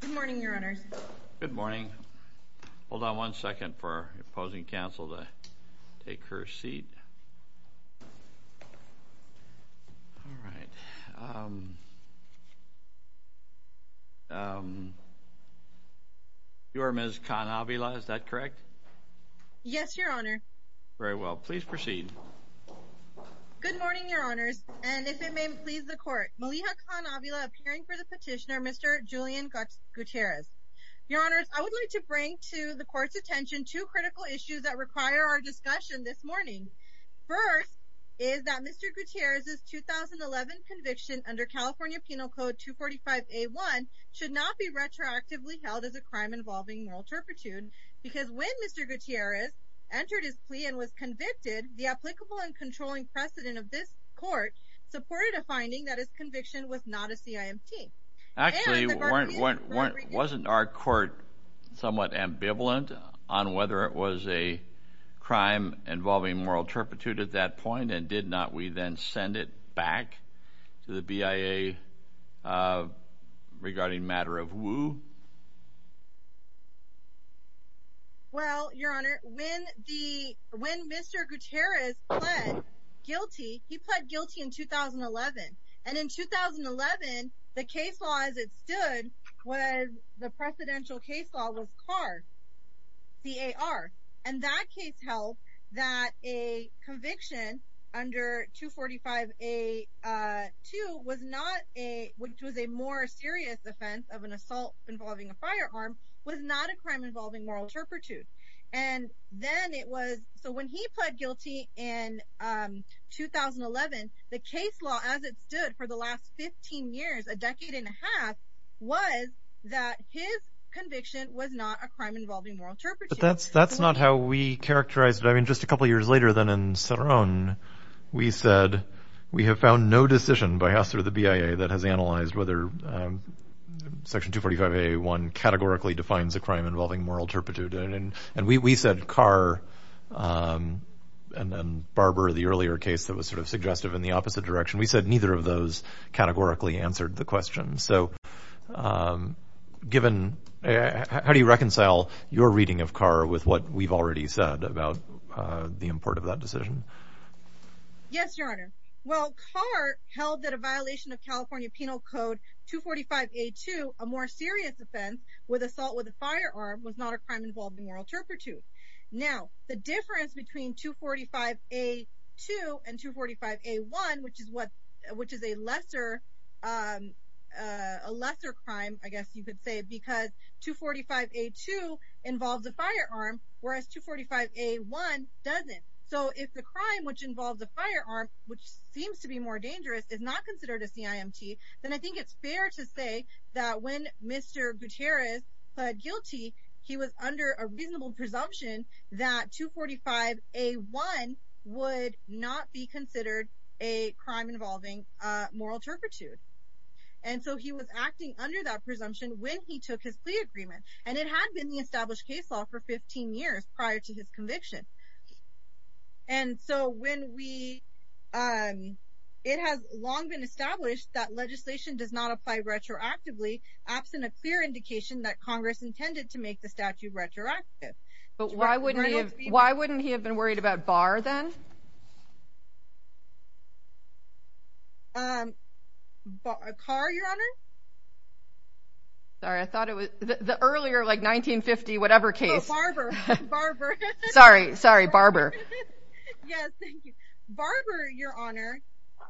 Good morning, Your Honors. Good morning. Hold on one second for our opposing counsel to take her seat. You are Ms. Khan-Avila, is that correct? Yes, Your Honor. Very well. Please proceed. Good morning, Your Honors, and if it may please the Court. Maliha Khan-Avila, appearing for the petitioner, Mr. Julian Gutierrez. Your Honors, I would like to bring to the Court's attention two critical issues that require our discussion this morning. First, is that Mr. Gutierrez's 2011 conviction under California Penal Code 245A1 should not be retroactively held as a crime involving moral turpitude because when Mr. Gutierrez entered his plea and was convicted, the applicable and controlling precedent of this Court supported a finding that his conviction was not a CIMT. Actually, wasn't our Court somewhat ambivalent on whether it was a crime involving moral turpitude at that point, and did not we then send it back to the BIA regarding matter of woe? Well, Your Honor, when Mr. Gutierrez pled guilty, he pled guilty in 2011, and in 2011, the case law as it stood was, the precedential case law was CAR, C-A-R, and that case held that a conviction under 245A2, which was a more serious offense of an assault involving a firearm, was not a crime involving moral turpitude. So when he pled guilty in 2011, the case law as it stood for the last 15 years, a decade and a half, was that his conviction was not a crime involving moral turpitude. But that's not how we characterized it. I mean, just a couple of years later then in Ceron, we said, we have found no decision by us or the BIA that has analyzed whether Section 245A1 categorically defines a crime involving moral turpitude. And we said CAR, and then Barber, the earlier case that was sort of suggestive in the opposite direction, we said neither of those categorically answered the question. So given, how do you reconcile your reading of CAR with what we've already said about the import of that decision? Yes, Your Honor. Well, CAR held that a violation of California Penal Code 245A2, a more serious offense with assault with a firearm, was not a crime involving moral turpitude. Now, the difference between 245A2 and 245A1, which is a lesser crime, I guess you could say, because 245A2 involves a firearm, whereas 245A1 doesn't. So if the crime which involves a firearm, which seems to be more dangerous, is not considered a CIMT, then I think it's fair to say that when Mr. Gutierrez pled guilty, he was under a reasonable presumption that 245A1 would not be considered a crime involving moral turpitude. And so he was acting under that presumption when he took his plea agreement. And it had been the established case law for 15 years prior to his conviction. And so when we – it has long been established that legislation does not apply retroactively, absent a clear indication that Congress intended to make the statute retroactive. But why wouldn't he have been worried about BAR then? CAR, Your Honor? Sorry, I thought it was – the earlier, like, 1950-whatever case. Oh, Barber. Barber. Sorry, sorry, Barber. Yes, thank you. Barber, Your Honor,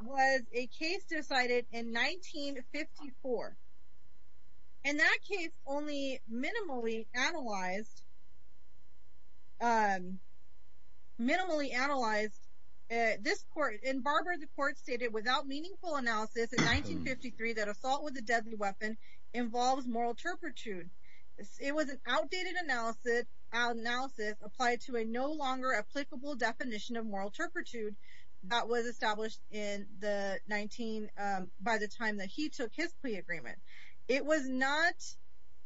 was a case decided in 1954. And that case only minimally analyzed – minimally analyzed this court. In Barber, the court stated, without meaningful analysis, in 1953, that assault with a deadly weapon involves moral turpitude. It was an outdated analysis applied to a no longer applicable definition of moral turpitude that was established in the 19 – by the time that he took his plea agreement. It was not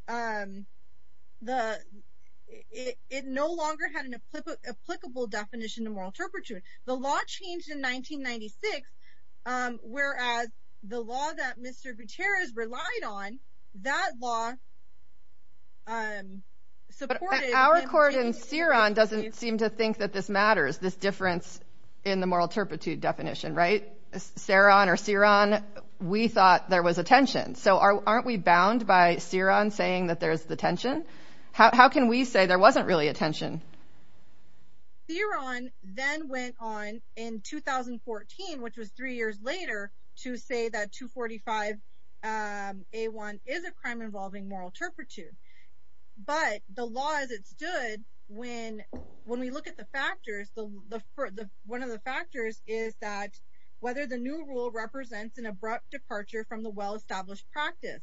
the – it no longer had an applicable definition of moral turpitude. The law changed in 1996, whereas the law that Mr. Gutierrez relied on, that law supported – But our court in Ceron doesn't seem to think that this matters, this difference in the moral turpitude definition, right? Ceron or Ceron, we thought there was a tension. So aren't we bound by Ceron saying that there's the tension? How can we say there wasn't really a tension? Ceron then went on in 2014, which was three years later, to say that 245A1 is a crime involving moral turpitude. But the law as it stood, when we look at the factors, one of the factors is that whether the new rule represents an abrupt departure from the well-established practice.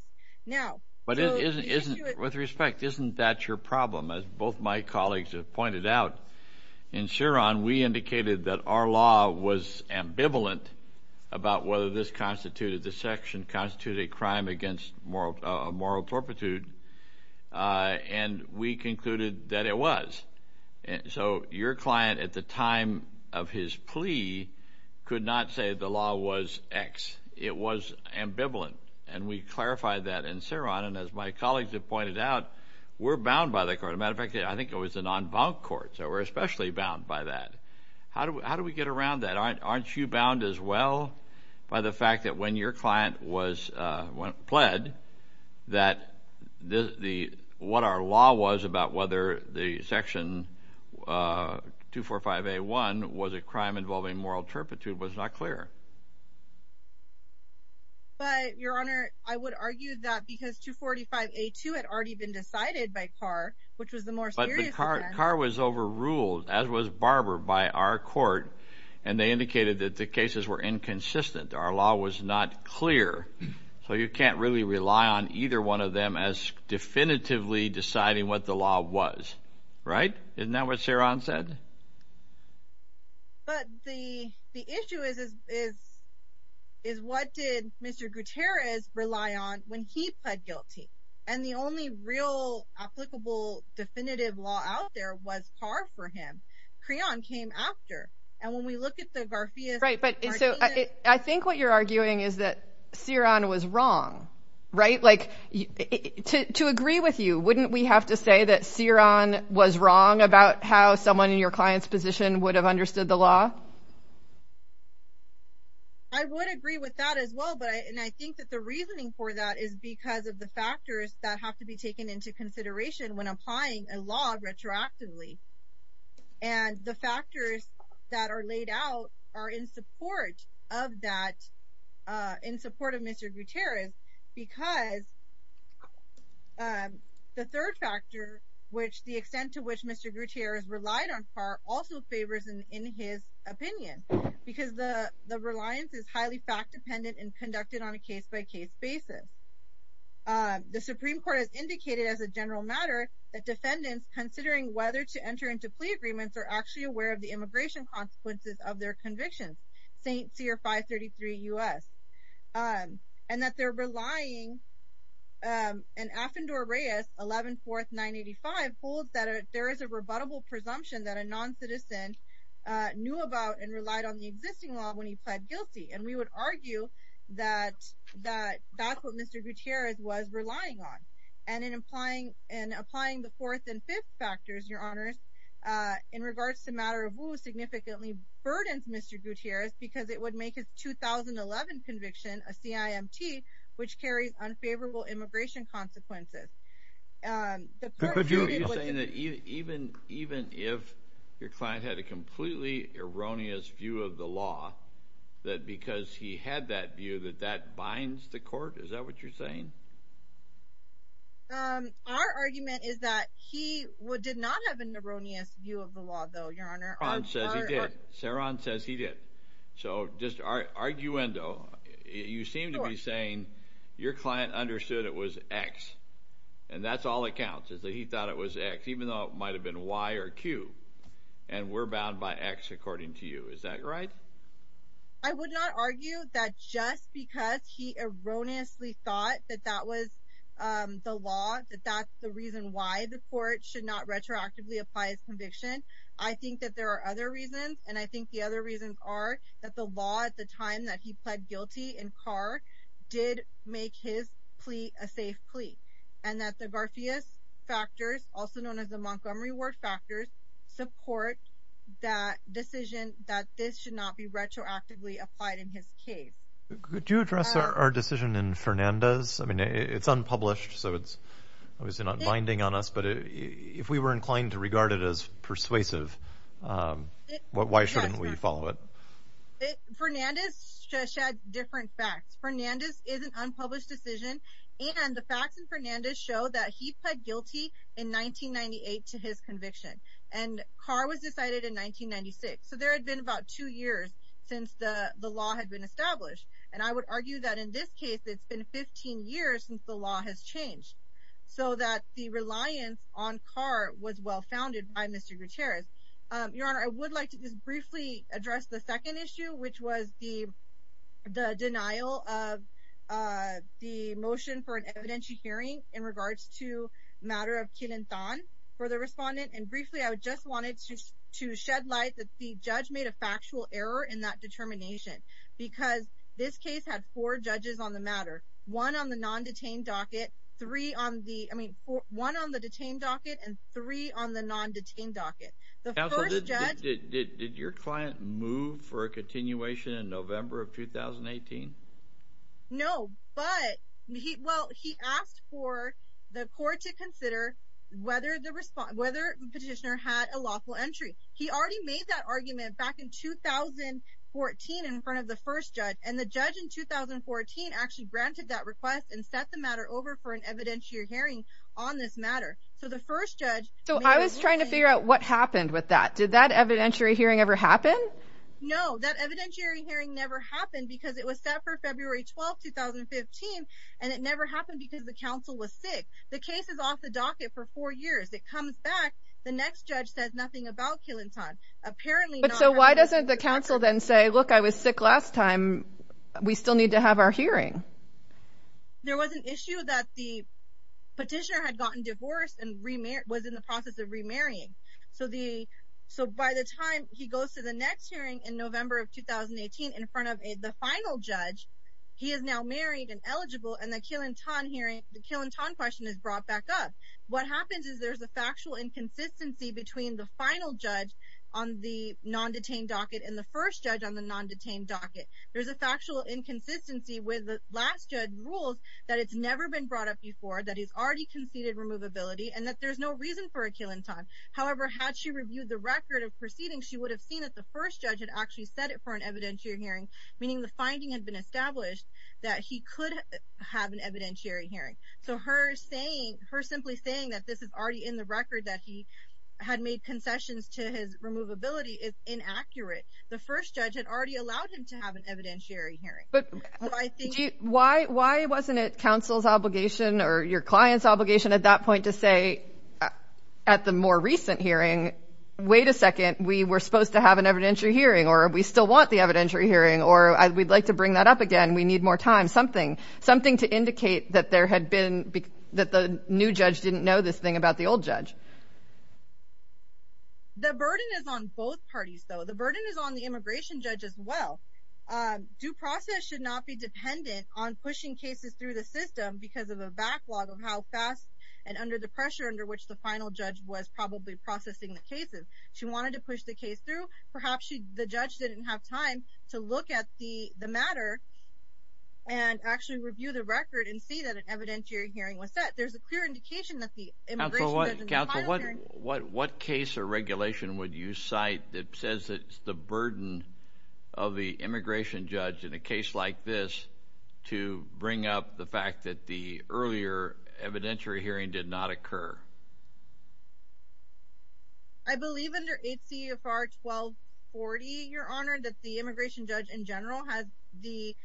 But isn't – with respect, isn't that your problem? As both my colleagues have pointed out, in Ceron we indicated that our law was ambivalent about whether this constituted – this section constituted a crime against moral turpitude, and we concluded that it was. So your client at the time of his plea could not say the law was X. It was ambivalent, and we clarified that in Ceron. And as my colleagues have pointed out, we're bound by the court. As a matter of fact, I think it was a non-bound court, so we're especially bound by that. How do we get around that? Aren't you bound as well by the fact that when your client was – pled that what our law was about whether the section 245A1 was a crime involving moral turpitude was not clear? But, Your Honor, I would argue that because 245A2 had already been decided by Carr, which was the more serious offense. But Carr was overruled, as was Barber, by our court, and they indicated that the cases were inconsistent. Our law was not clear. So you can't really rely on either one of them as definitively deciding what the law was, right? Isn't that what Ceron said? But the issue is what did Mr. Gutierrez rely on when he pled guilty? And the only real applicable definitive law out there was Carr for him. Creon came after. And when we look at the Garfias argument— Right, but I think what you're arguing is that Ceron was wrong, right? To agree with you, wouldn't we have to say that Ceron was wrong about how someone in your client's position would have understood the law? I would agree with that as well. And I think that the reasoning for that is because of the factors that have to be taken into consideration when applying a law retroactively. And the factors that are laid out are in support of Mr. Gutierrez because the third factor, which the extent to which Mr. Gutierrez relied on Carr, also favors in his opinion because the reliance is highly fact-dependent and conducted on a case-by-case basis. The Supreme Court has indicated as a general matter that defendants, considering whether to enter into plea agreements, are actually aware of the immigration consequences of their convictions, St. Cyr 533 U.S. And that they're relying—and Afendor-Reyes 11-4-985 holds that there is a rebuttable presumption that a non-citizen knew about and relied on the existing law when he pled guilty. And we would argue that that's what Mr. Gutierrez was relying on. And in applying the fourth and fifth factors, Your Honours, in regards to Mataravu significantly burdens Mr. Gutierrez because it would make his 2011 conviction a CIMT, which carries unfavorable immigration consequences. But you're saying that even if your client had a completely erroneous view of the law, that because he had that view that that binds the court? Is that what you're saying? Our argument is that he did not have an erroneous view of the law, though, Your Honour. Ceron says he did. Ceron says he did. So just arguendo, you seem to be saying your client understood it was X, and that's all that counts, is that he thought it was X, even though it might have been Y or Q. And we're bound by X, according to you. Is that right? I would not argue that just because he erroneously thought that that was the law, that that's the reason why the court should not retroactively apply his conviction. I think that there are other reasons, and I think the other reasons are that the law at the time that he pled guilty in Carr did make his plea a safe plea, and that the Garfias factors, also known as the Montgomery Ward factors, support that decision that this should not be retroactively applied in his case. Could you address our decision in Fernandez? I mean, it's unpublished, so it's obviously not binding on us, but if we were inclined to regard it as persuasive, why shouldn't we follow it? Fernandez shed different facts. Fernandez is an unpublished decision, and the facts in Fernandez show that he pled guilty in 1998 to his conviction. And Carr was decided in 1996, so there had been about two years since the law had been established. And I would argue that in this case, it's been 15 years since the law has changed, so that the reliance on Carr was well-founded by Mr. Gutierrez. Your Honor, I would like to just briefly address the second issue, which was the denial of the motion for an evidentiary hearing in regards to the matter of Quilin-Thon for the respondent, and briefly, I just wanted to shed light that the judge made a factual error in that determination, because this case had four judges on the matter. One on the non-detained docket, three on the—I mean, one on the detained docket, and three on the non-detained docket. The first judge— Counsel, did your client move for a continuation in November of 2018? No, but—well, he asked for the court to consider whether the petitioner had a lawful entry. He already made that argument back in 2014 in front of the first judge, and the judge in 2014 actually granted that request and set the matter over for an evidentiary hearing on this matter. So the first judge— So I was trying to figure out what happened with that. Did that evidentiary hearing ever happen? No, that evidentiary hearing never happened because it was set for February 12, 2015, and it never happened because the counsel was sick. The case is off the docket for four years. It comes back, the next judge says nothing about Quilin-Thon. But so why doesn't the counsel then say, look, I was sick last time. We still need to have our hearing. There was an issue that the petitioner had gotten divorced and was in the process of remarrying. So by the time he goes to the next hearing in November of 2018 in front of the final judge, he is now married and eligible, and the Quilin-Thon question is brought back up. What happens is there's a factual inconsistency between the final judge on the non-detained docket and the first judge on the non-detained docket. There's a factual inconsistency with the last judge's rules that it's never been brought up before, that he's already conceded removability, and that there's no reason for a Quilin-Thon. However, had she reviewed the record of proceedings, she would have seen that the first judge had actually set it for an evidentiary hearing, meaning the finding had been established that he could have an evidentiary hearing. So her simply saying that this is already in the record, that he had made concessions to his removability, is inaccurate. The first judge had already allowed him to have an evidentiary hearing. Why wasn't it counsel's obligation or your client's obligation at that point to say at the more recent hearing, wait a second, we were supposed to have an evidentiary hearing, or we still want the evidentiary hearing, or we'd like to bring that up again. We need more time. Something to indicate that the new judge didn't know this thing about the old judge. The burden is on both parties, though. The burden is on the immigration judge as well. Due process should not be dependent on pushing cases through the system because of a backlog of how fast and under the pressure under which the final judge was probably processing the cases. She wanted to push the case through. Perhaps the judge didn't have time to look at the matter and actually review the record and see that an evidentiary hearing was set. There's a clear indication that the immigration judge and the client hearing… Counsel, what case or regulation would you cite that says it's the burden of the immigration judge in a case like this to bring up the fact that the earlier evidentiary hearing did not occur? I believe under HCFR 1240, Your Honor, that the immigration judge in general has the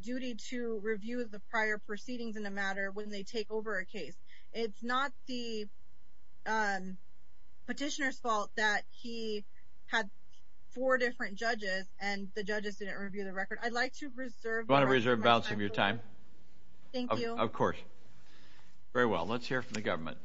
duty to review the prior proceedings in the matter when they take over a case. It's not the petitioner's fault that he had four different judges and the judges didn't review the record. I'd like to reserve… You want to reserve balance of your time? Thank you. Of course. Very well. Let's hear from the government.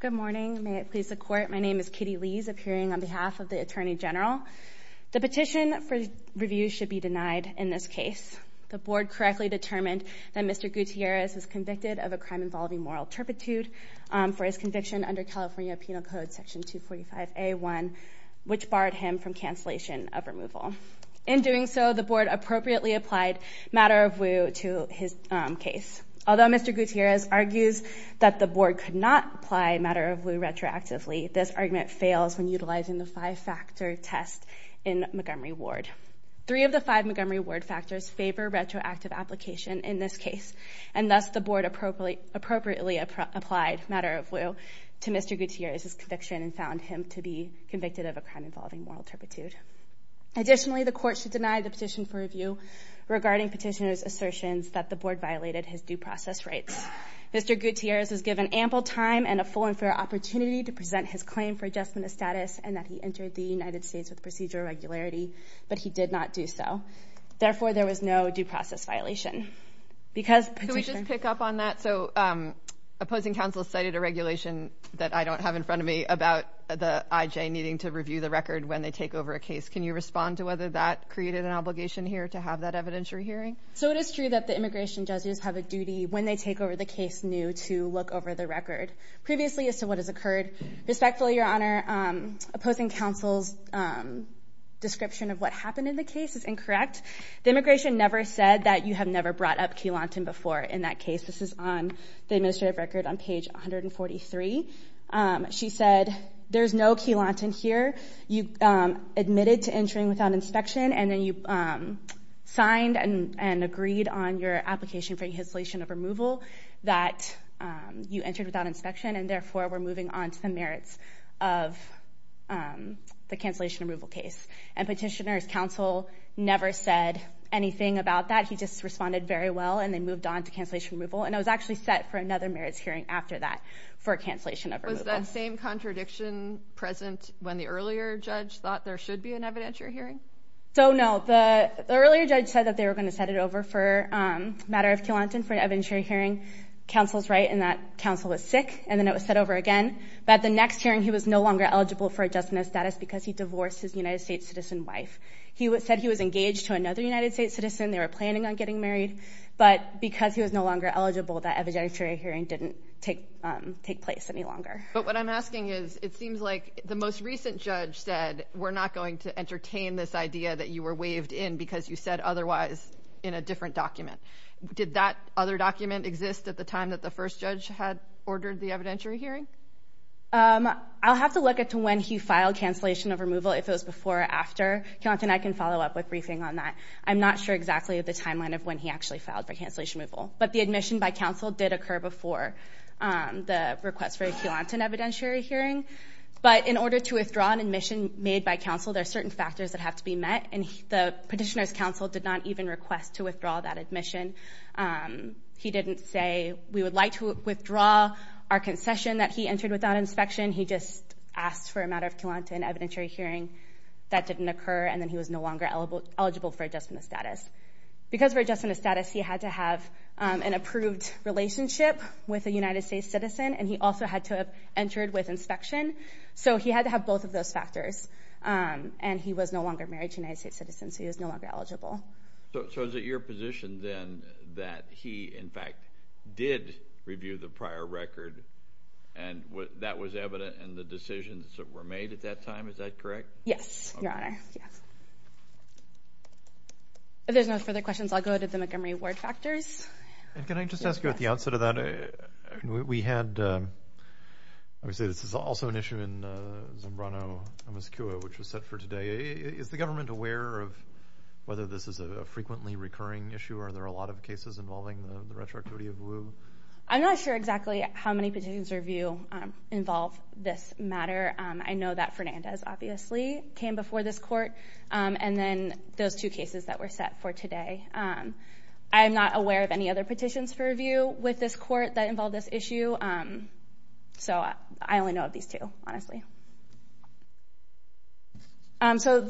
Good morning. May it please the Court, my name is Katie Lees, appearing on behalf of the Attorney General. The petition for review should be denied in this case. The Board correctly determined that Mr. Gutierrez was convicted of a crime involving moral turpitude for his conviction under California Penal Code Section 245A1, which barred him from cancellation of removal. In doing so, the Board appropriately applied matter of lieu to his case. Although Mr. Gutierrez argues that the Board could not apply matter of lieu retroactively, this argument fails when utilizing the five-factor test in Montgomery Ward. Three of the five Montgomery Ward factors favor retroactive application in this case, and thus the Board appropriately applied matter of lieu to Mr. Gutierrez's conviction and found him to be convicted of a crime involving moral turpitude. Additionally, the Court should deny the petition for review regarding petitioner's assertions that the Board violated his due process rights. Mr. Gutierrez was given ample time and a full and fair opportunity to present his claim for adjustment of status and that he entered the United States with procedural regularity, but he did not do so. Therefore, there was no due process violation. Can we just pick up on that? So opposing counsel cited a regulation that I don't have in front of me about the IJ needing to review the record when they take over a case. Can you respond to whether that created an obligation here to have that evidentiary hearing? So it is true that the immigration judges have a duty when they take over the case new to look over the record previously as to what has occurred. Respectfully, Your Honor, opposing counsel's description of what happened in the case is incorrect. The immigration never said that you have never brought up Key Lawton before in that case. This is on the administrative record on page 143. She said there's no Key Lawton here. You admitted to entering without inspection and then you signed and agreed on your application for cancellation of removal that you entered without inspection and therefore were moving on to the merits of the cancellation removal case. And petitioner's counsel never said anything about that. He just responded very well and they moved on to cancellation removal. And it was actually set for another merits hearing after that for cancellation of removal. Was that same contradiction present when the earlier judge thought there should be an evidentiary hearing? So, no. The earlier judge said that they were going to set it over for a matter of Key Lawton for an evidentiary hearing. Counsel's right in that counsel was sick and then it was set over again. But at the next hearing, he was no longer eligible for adjustment of status because he divorced his United States citizen wife. He said he was engaged to another United States citizen. They were planning on getting married. But because he was no longer eligible, that evidentiary hearing didn't take place any longer. But what I'm asking is, it seems like the most recent judge said, we're not going to entertain this idea that you were waived in because you said otherwise in a different document. Did that other document exist at the time that the first judge had ordered the evidentiary hearing? I'll have to look at when he filed cancellation of removal, if it was before or after. Key Lawton and I can follow up with briefing on that. I'm not sure exactly of the timeline of when he actually filed for cancellation removal. But the admission by counsel did occur before the request for a Key Lawton evidentiary hearing. But in order to withdraw an admission made by counsel, there are certain factors that have to be met. And the petitioner's counsel did not even request to withdraw that admission. He didn't say, we would like to withdraw our concession that he entered without inspection. He just asked for a matter of Key Lawton evidentiary hearing. That didn't occur. And then he was no longer eligible for adjustment of status. Because of adjustment of status, he had to have an approved relationship with a United States citizen. And he also had to have entered with inspection. So he had to have both of those factors. And he was no longer married to a United States citizen. So he was no longer eligible. So is it your position then that he, in fact, did review the prior record and that was evident in the decisions that were made at that time? Is that correct? Yes, Your Honor. If there's no further questions, I'll go to the Montgomery Ward factors. Can I just ask you at the outset of that? We had, obviously, this is also an issue in Zambrano, Moscow, which was set for today. Is the government aware of whether this is a frequently recurring issue? Are there a lot of cases involving the retroactivity of Wu? I'm not sure exactly how many petitions review involve this matter. I know that Fernandez, obviously, came before this court. And then those two cases that were set for today. I'm not aware of any other petitions for review with this court that involve this issue. So I only know of these two, honestly. So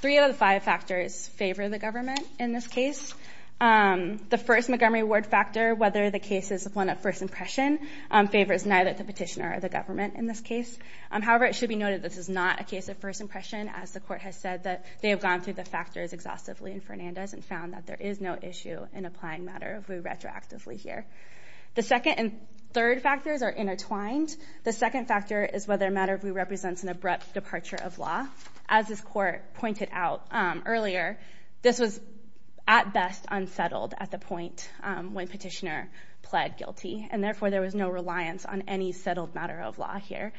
three out of the five factors favor the government in this case. The first Montgomery Ward factor, whether the case is one of first impression, favors neither the petitioner or the government in this case. However, it should be noted this is not a case of first impression, as the court has said that they have gone through the factors exhaustively in Fernandez and found that there is no issue in applying Matter of Wu retroactively here. The second and third factors are intertwined. The second factor is whether Matter of Wu represents an abrupt departure of law. As this court pointed out earlier, this was at best unsettled at the point when petitioner pled guilty. And therefore, there was no reliance on any settled matter of law here.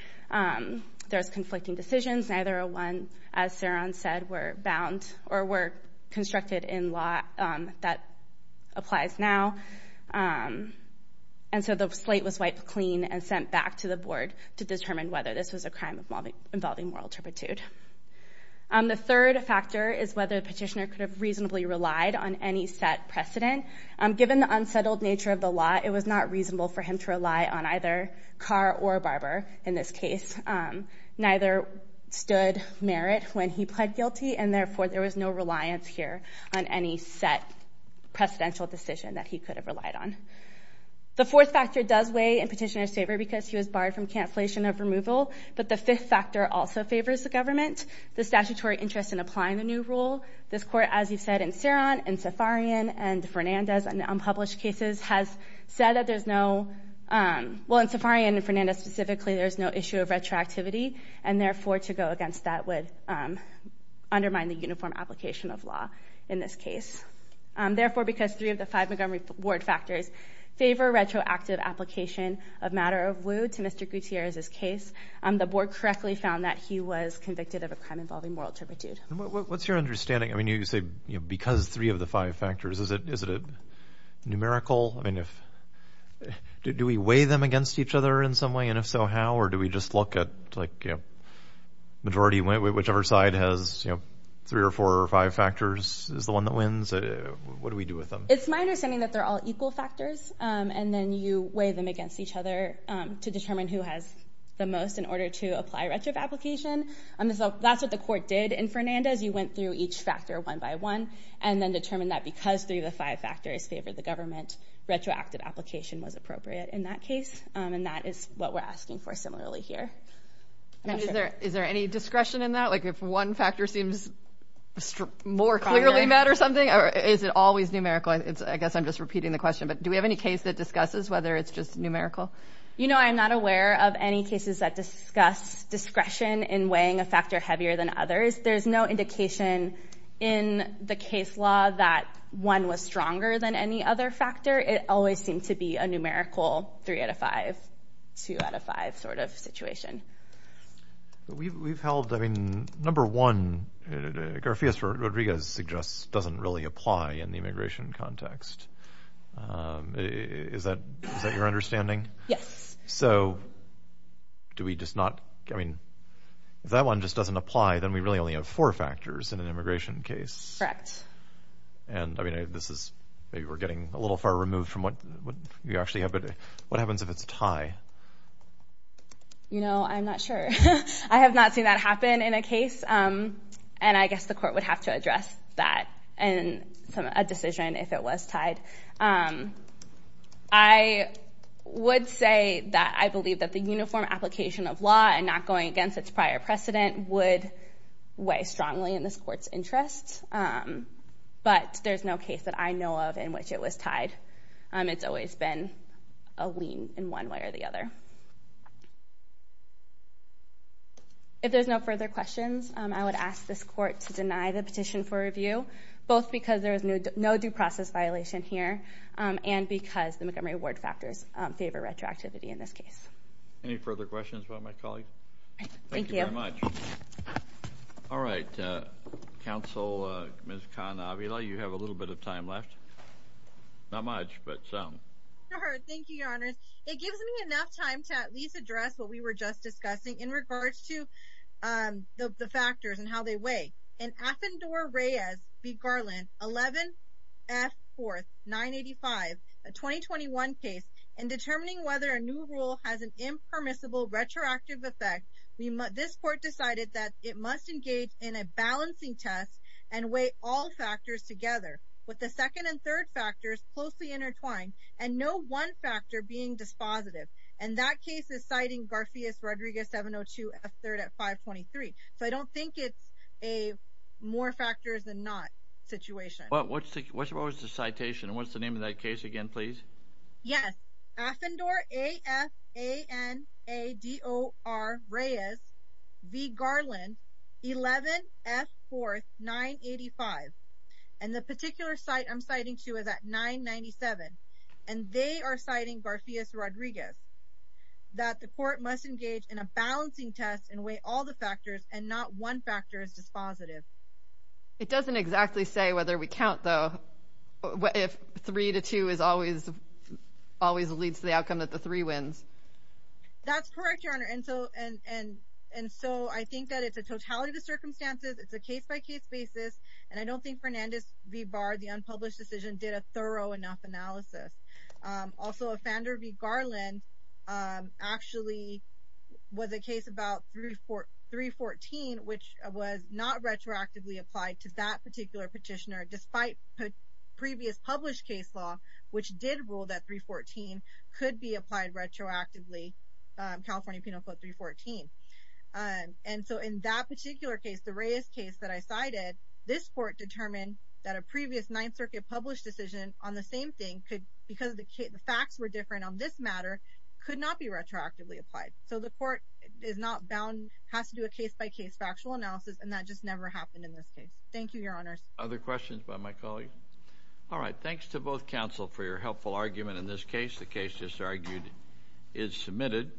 There's conflicting decisions. Neither one, as Saron said, were bound or were constructed in law that applies now. And so the slate was wiped clean and sent back to the board to determine whether this was a crime involving moral turpitude. The third factor is whether the petitioner could have reasonably relied on any set precedent. Given the unsettled nature of the law, it was not reasonable for him to rely on either Carr or Barber in this case. Neither stood merit when he pled guilty, and therefore there was no reliance here on any set precedential decision that he could have relied on. The fourth factor does weigh in petitioner's favor because he was barred from cancellation of removal. But the fifth factor also favors the government, the statutory interest in applying the new rule. This court, as you've said, in Saron and Safarian and Fernandez and unpublished cases, has said that there's no—well, in Safarian and Fernandez specifically, there's no issue of retroactivity, and therefore to go against that would undermine the uniform application of law in this case. Therefore, because three of the five Montgomery Ward factors favor retroactive application of matter of will to Mr. Gutierrez's case, the board correctly found that he was convicted of a crime involving moral turpitude. What's your understanding? I mean, you say because three of the five factors, is it numerical? I mean, do we weigh them against each other in some way, and if so, how? Or do we just look at, like, majority, whichever side has three or four or five factors is the one that wins? What do we do with them? It's my understanding that they're all equal factors, and then you weigh them against each other to determine who has the most in order to apply retro application. So that's what the court did in Fernandez. You went through each factor one by one and then determined that because three of the five factors favored the government, retroactive application was appropriate in that case, and that is what we're asking for similarly here. And is there any discretion in that? Like if one factor seems more clearly matter something, or is it always numerical? I guess I'm just repeating the question, but do we have any case that discusses whether it's just numerical? You know, I'm not aware of any cases that discuss discretion in weighing a factor heavier than others. There's no indication in the case law that one was stronger than any other factor. It always seemed to be a numerical three out of five, two out of five sort of situation. We've held, I mean, number one, Garafias Rodriguez suggests doesn't really apply in the immigration context. Is that your understanding? Yes. So do we just not, I mean, if that one just doesn't apply, then we really only have four factors in an immigration case. Correct. And I mean, this is maybe we're getting a little far removed from what we actually have, but what happens if it's a tie? You know, I'm not sure. I have not seen that happen in a case, and I guess the court would have to address that in a decision if it was tied. I would say that I believe that the uniform application of law and not going against its prior precedent would weigh strongly in this court's interest. But there's no case that I know of in which it was tied. It's always been a lien in one way or the other. If there's no further questions, I would ask this court to deny the petition for review, both because there is no due process violation here and because the Montgomery Award factors favor retroactivity in this case. Any further questions about my colleague? Thank you. Thank you very much. All right, Counsel Ms. Khan-Avila, you have a little bit of time left. Not much, but some. All right. Thank you, Your Honors. It gives me enough time to at least address what we were just discussing in regards to the factors and how they weigh. In Affendor-Reyes v. Garland, 11 F. 4th, 985, a 2021 case, in determining whether a new rule has an impermissible retroactive effect, this court decided that it must engage in a balancing test and weigh all factors together. With the second and third factors closely intertwined and no one factor being dispositive. And that case is citing Garcias-Rodriguez 702 F. 3rd at 523. So I don't think it's a more factors than not situation. What was the citation and what's the name of that case again, please? Yes, Affendor-Reyes v. Garland, 11 F. 4th, 985. And the particular site I'm citing to is at 997. And they are citing Garcias-Rodriguez that the court must engage in a balancing test and weigh all the factors and not one factor is dispositive. It doesn't exactly say whether we count, though, if 3 to 2 always leads to the outcome that the 3 wins. That's correct, Your Honor. And so I think that it's a totality of the circumstances. It's a case-by-case basis. And I don't think Fernandez v. Barr, the unpublished decision, did a thorough enough analysis. Also, Affendor v. Garland actually was a case about 314, which was not retroactively applied to that particular petitioner despite previous published case law, which did rule that 314 could be applied retroactively, California Penal Code 314. And so in that particular case, the Reyes case that I cited, this court determined that a previous Ninth Circuit published decision on the same thing could, because the facts were different on this matter, could not be retroactively applied. So the court is not bound, has to do a case-by-case factual analysis, and that just never happened in this case. Thank you, Your Honors. Other questions by my colleague? All right. Thanks to both counsel for your helpful argument in this case. The case just argued is submitted.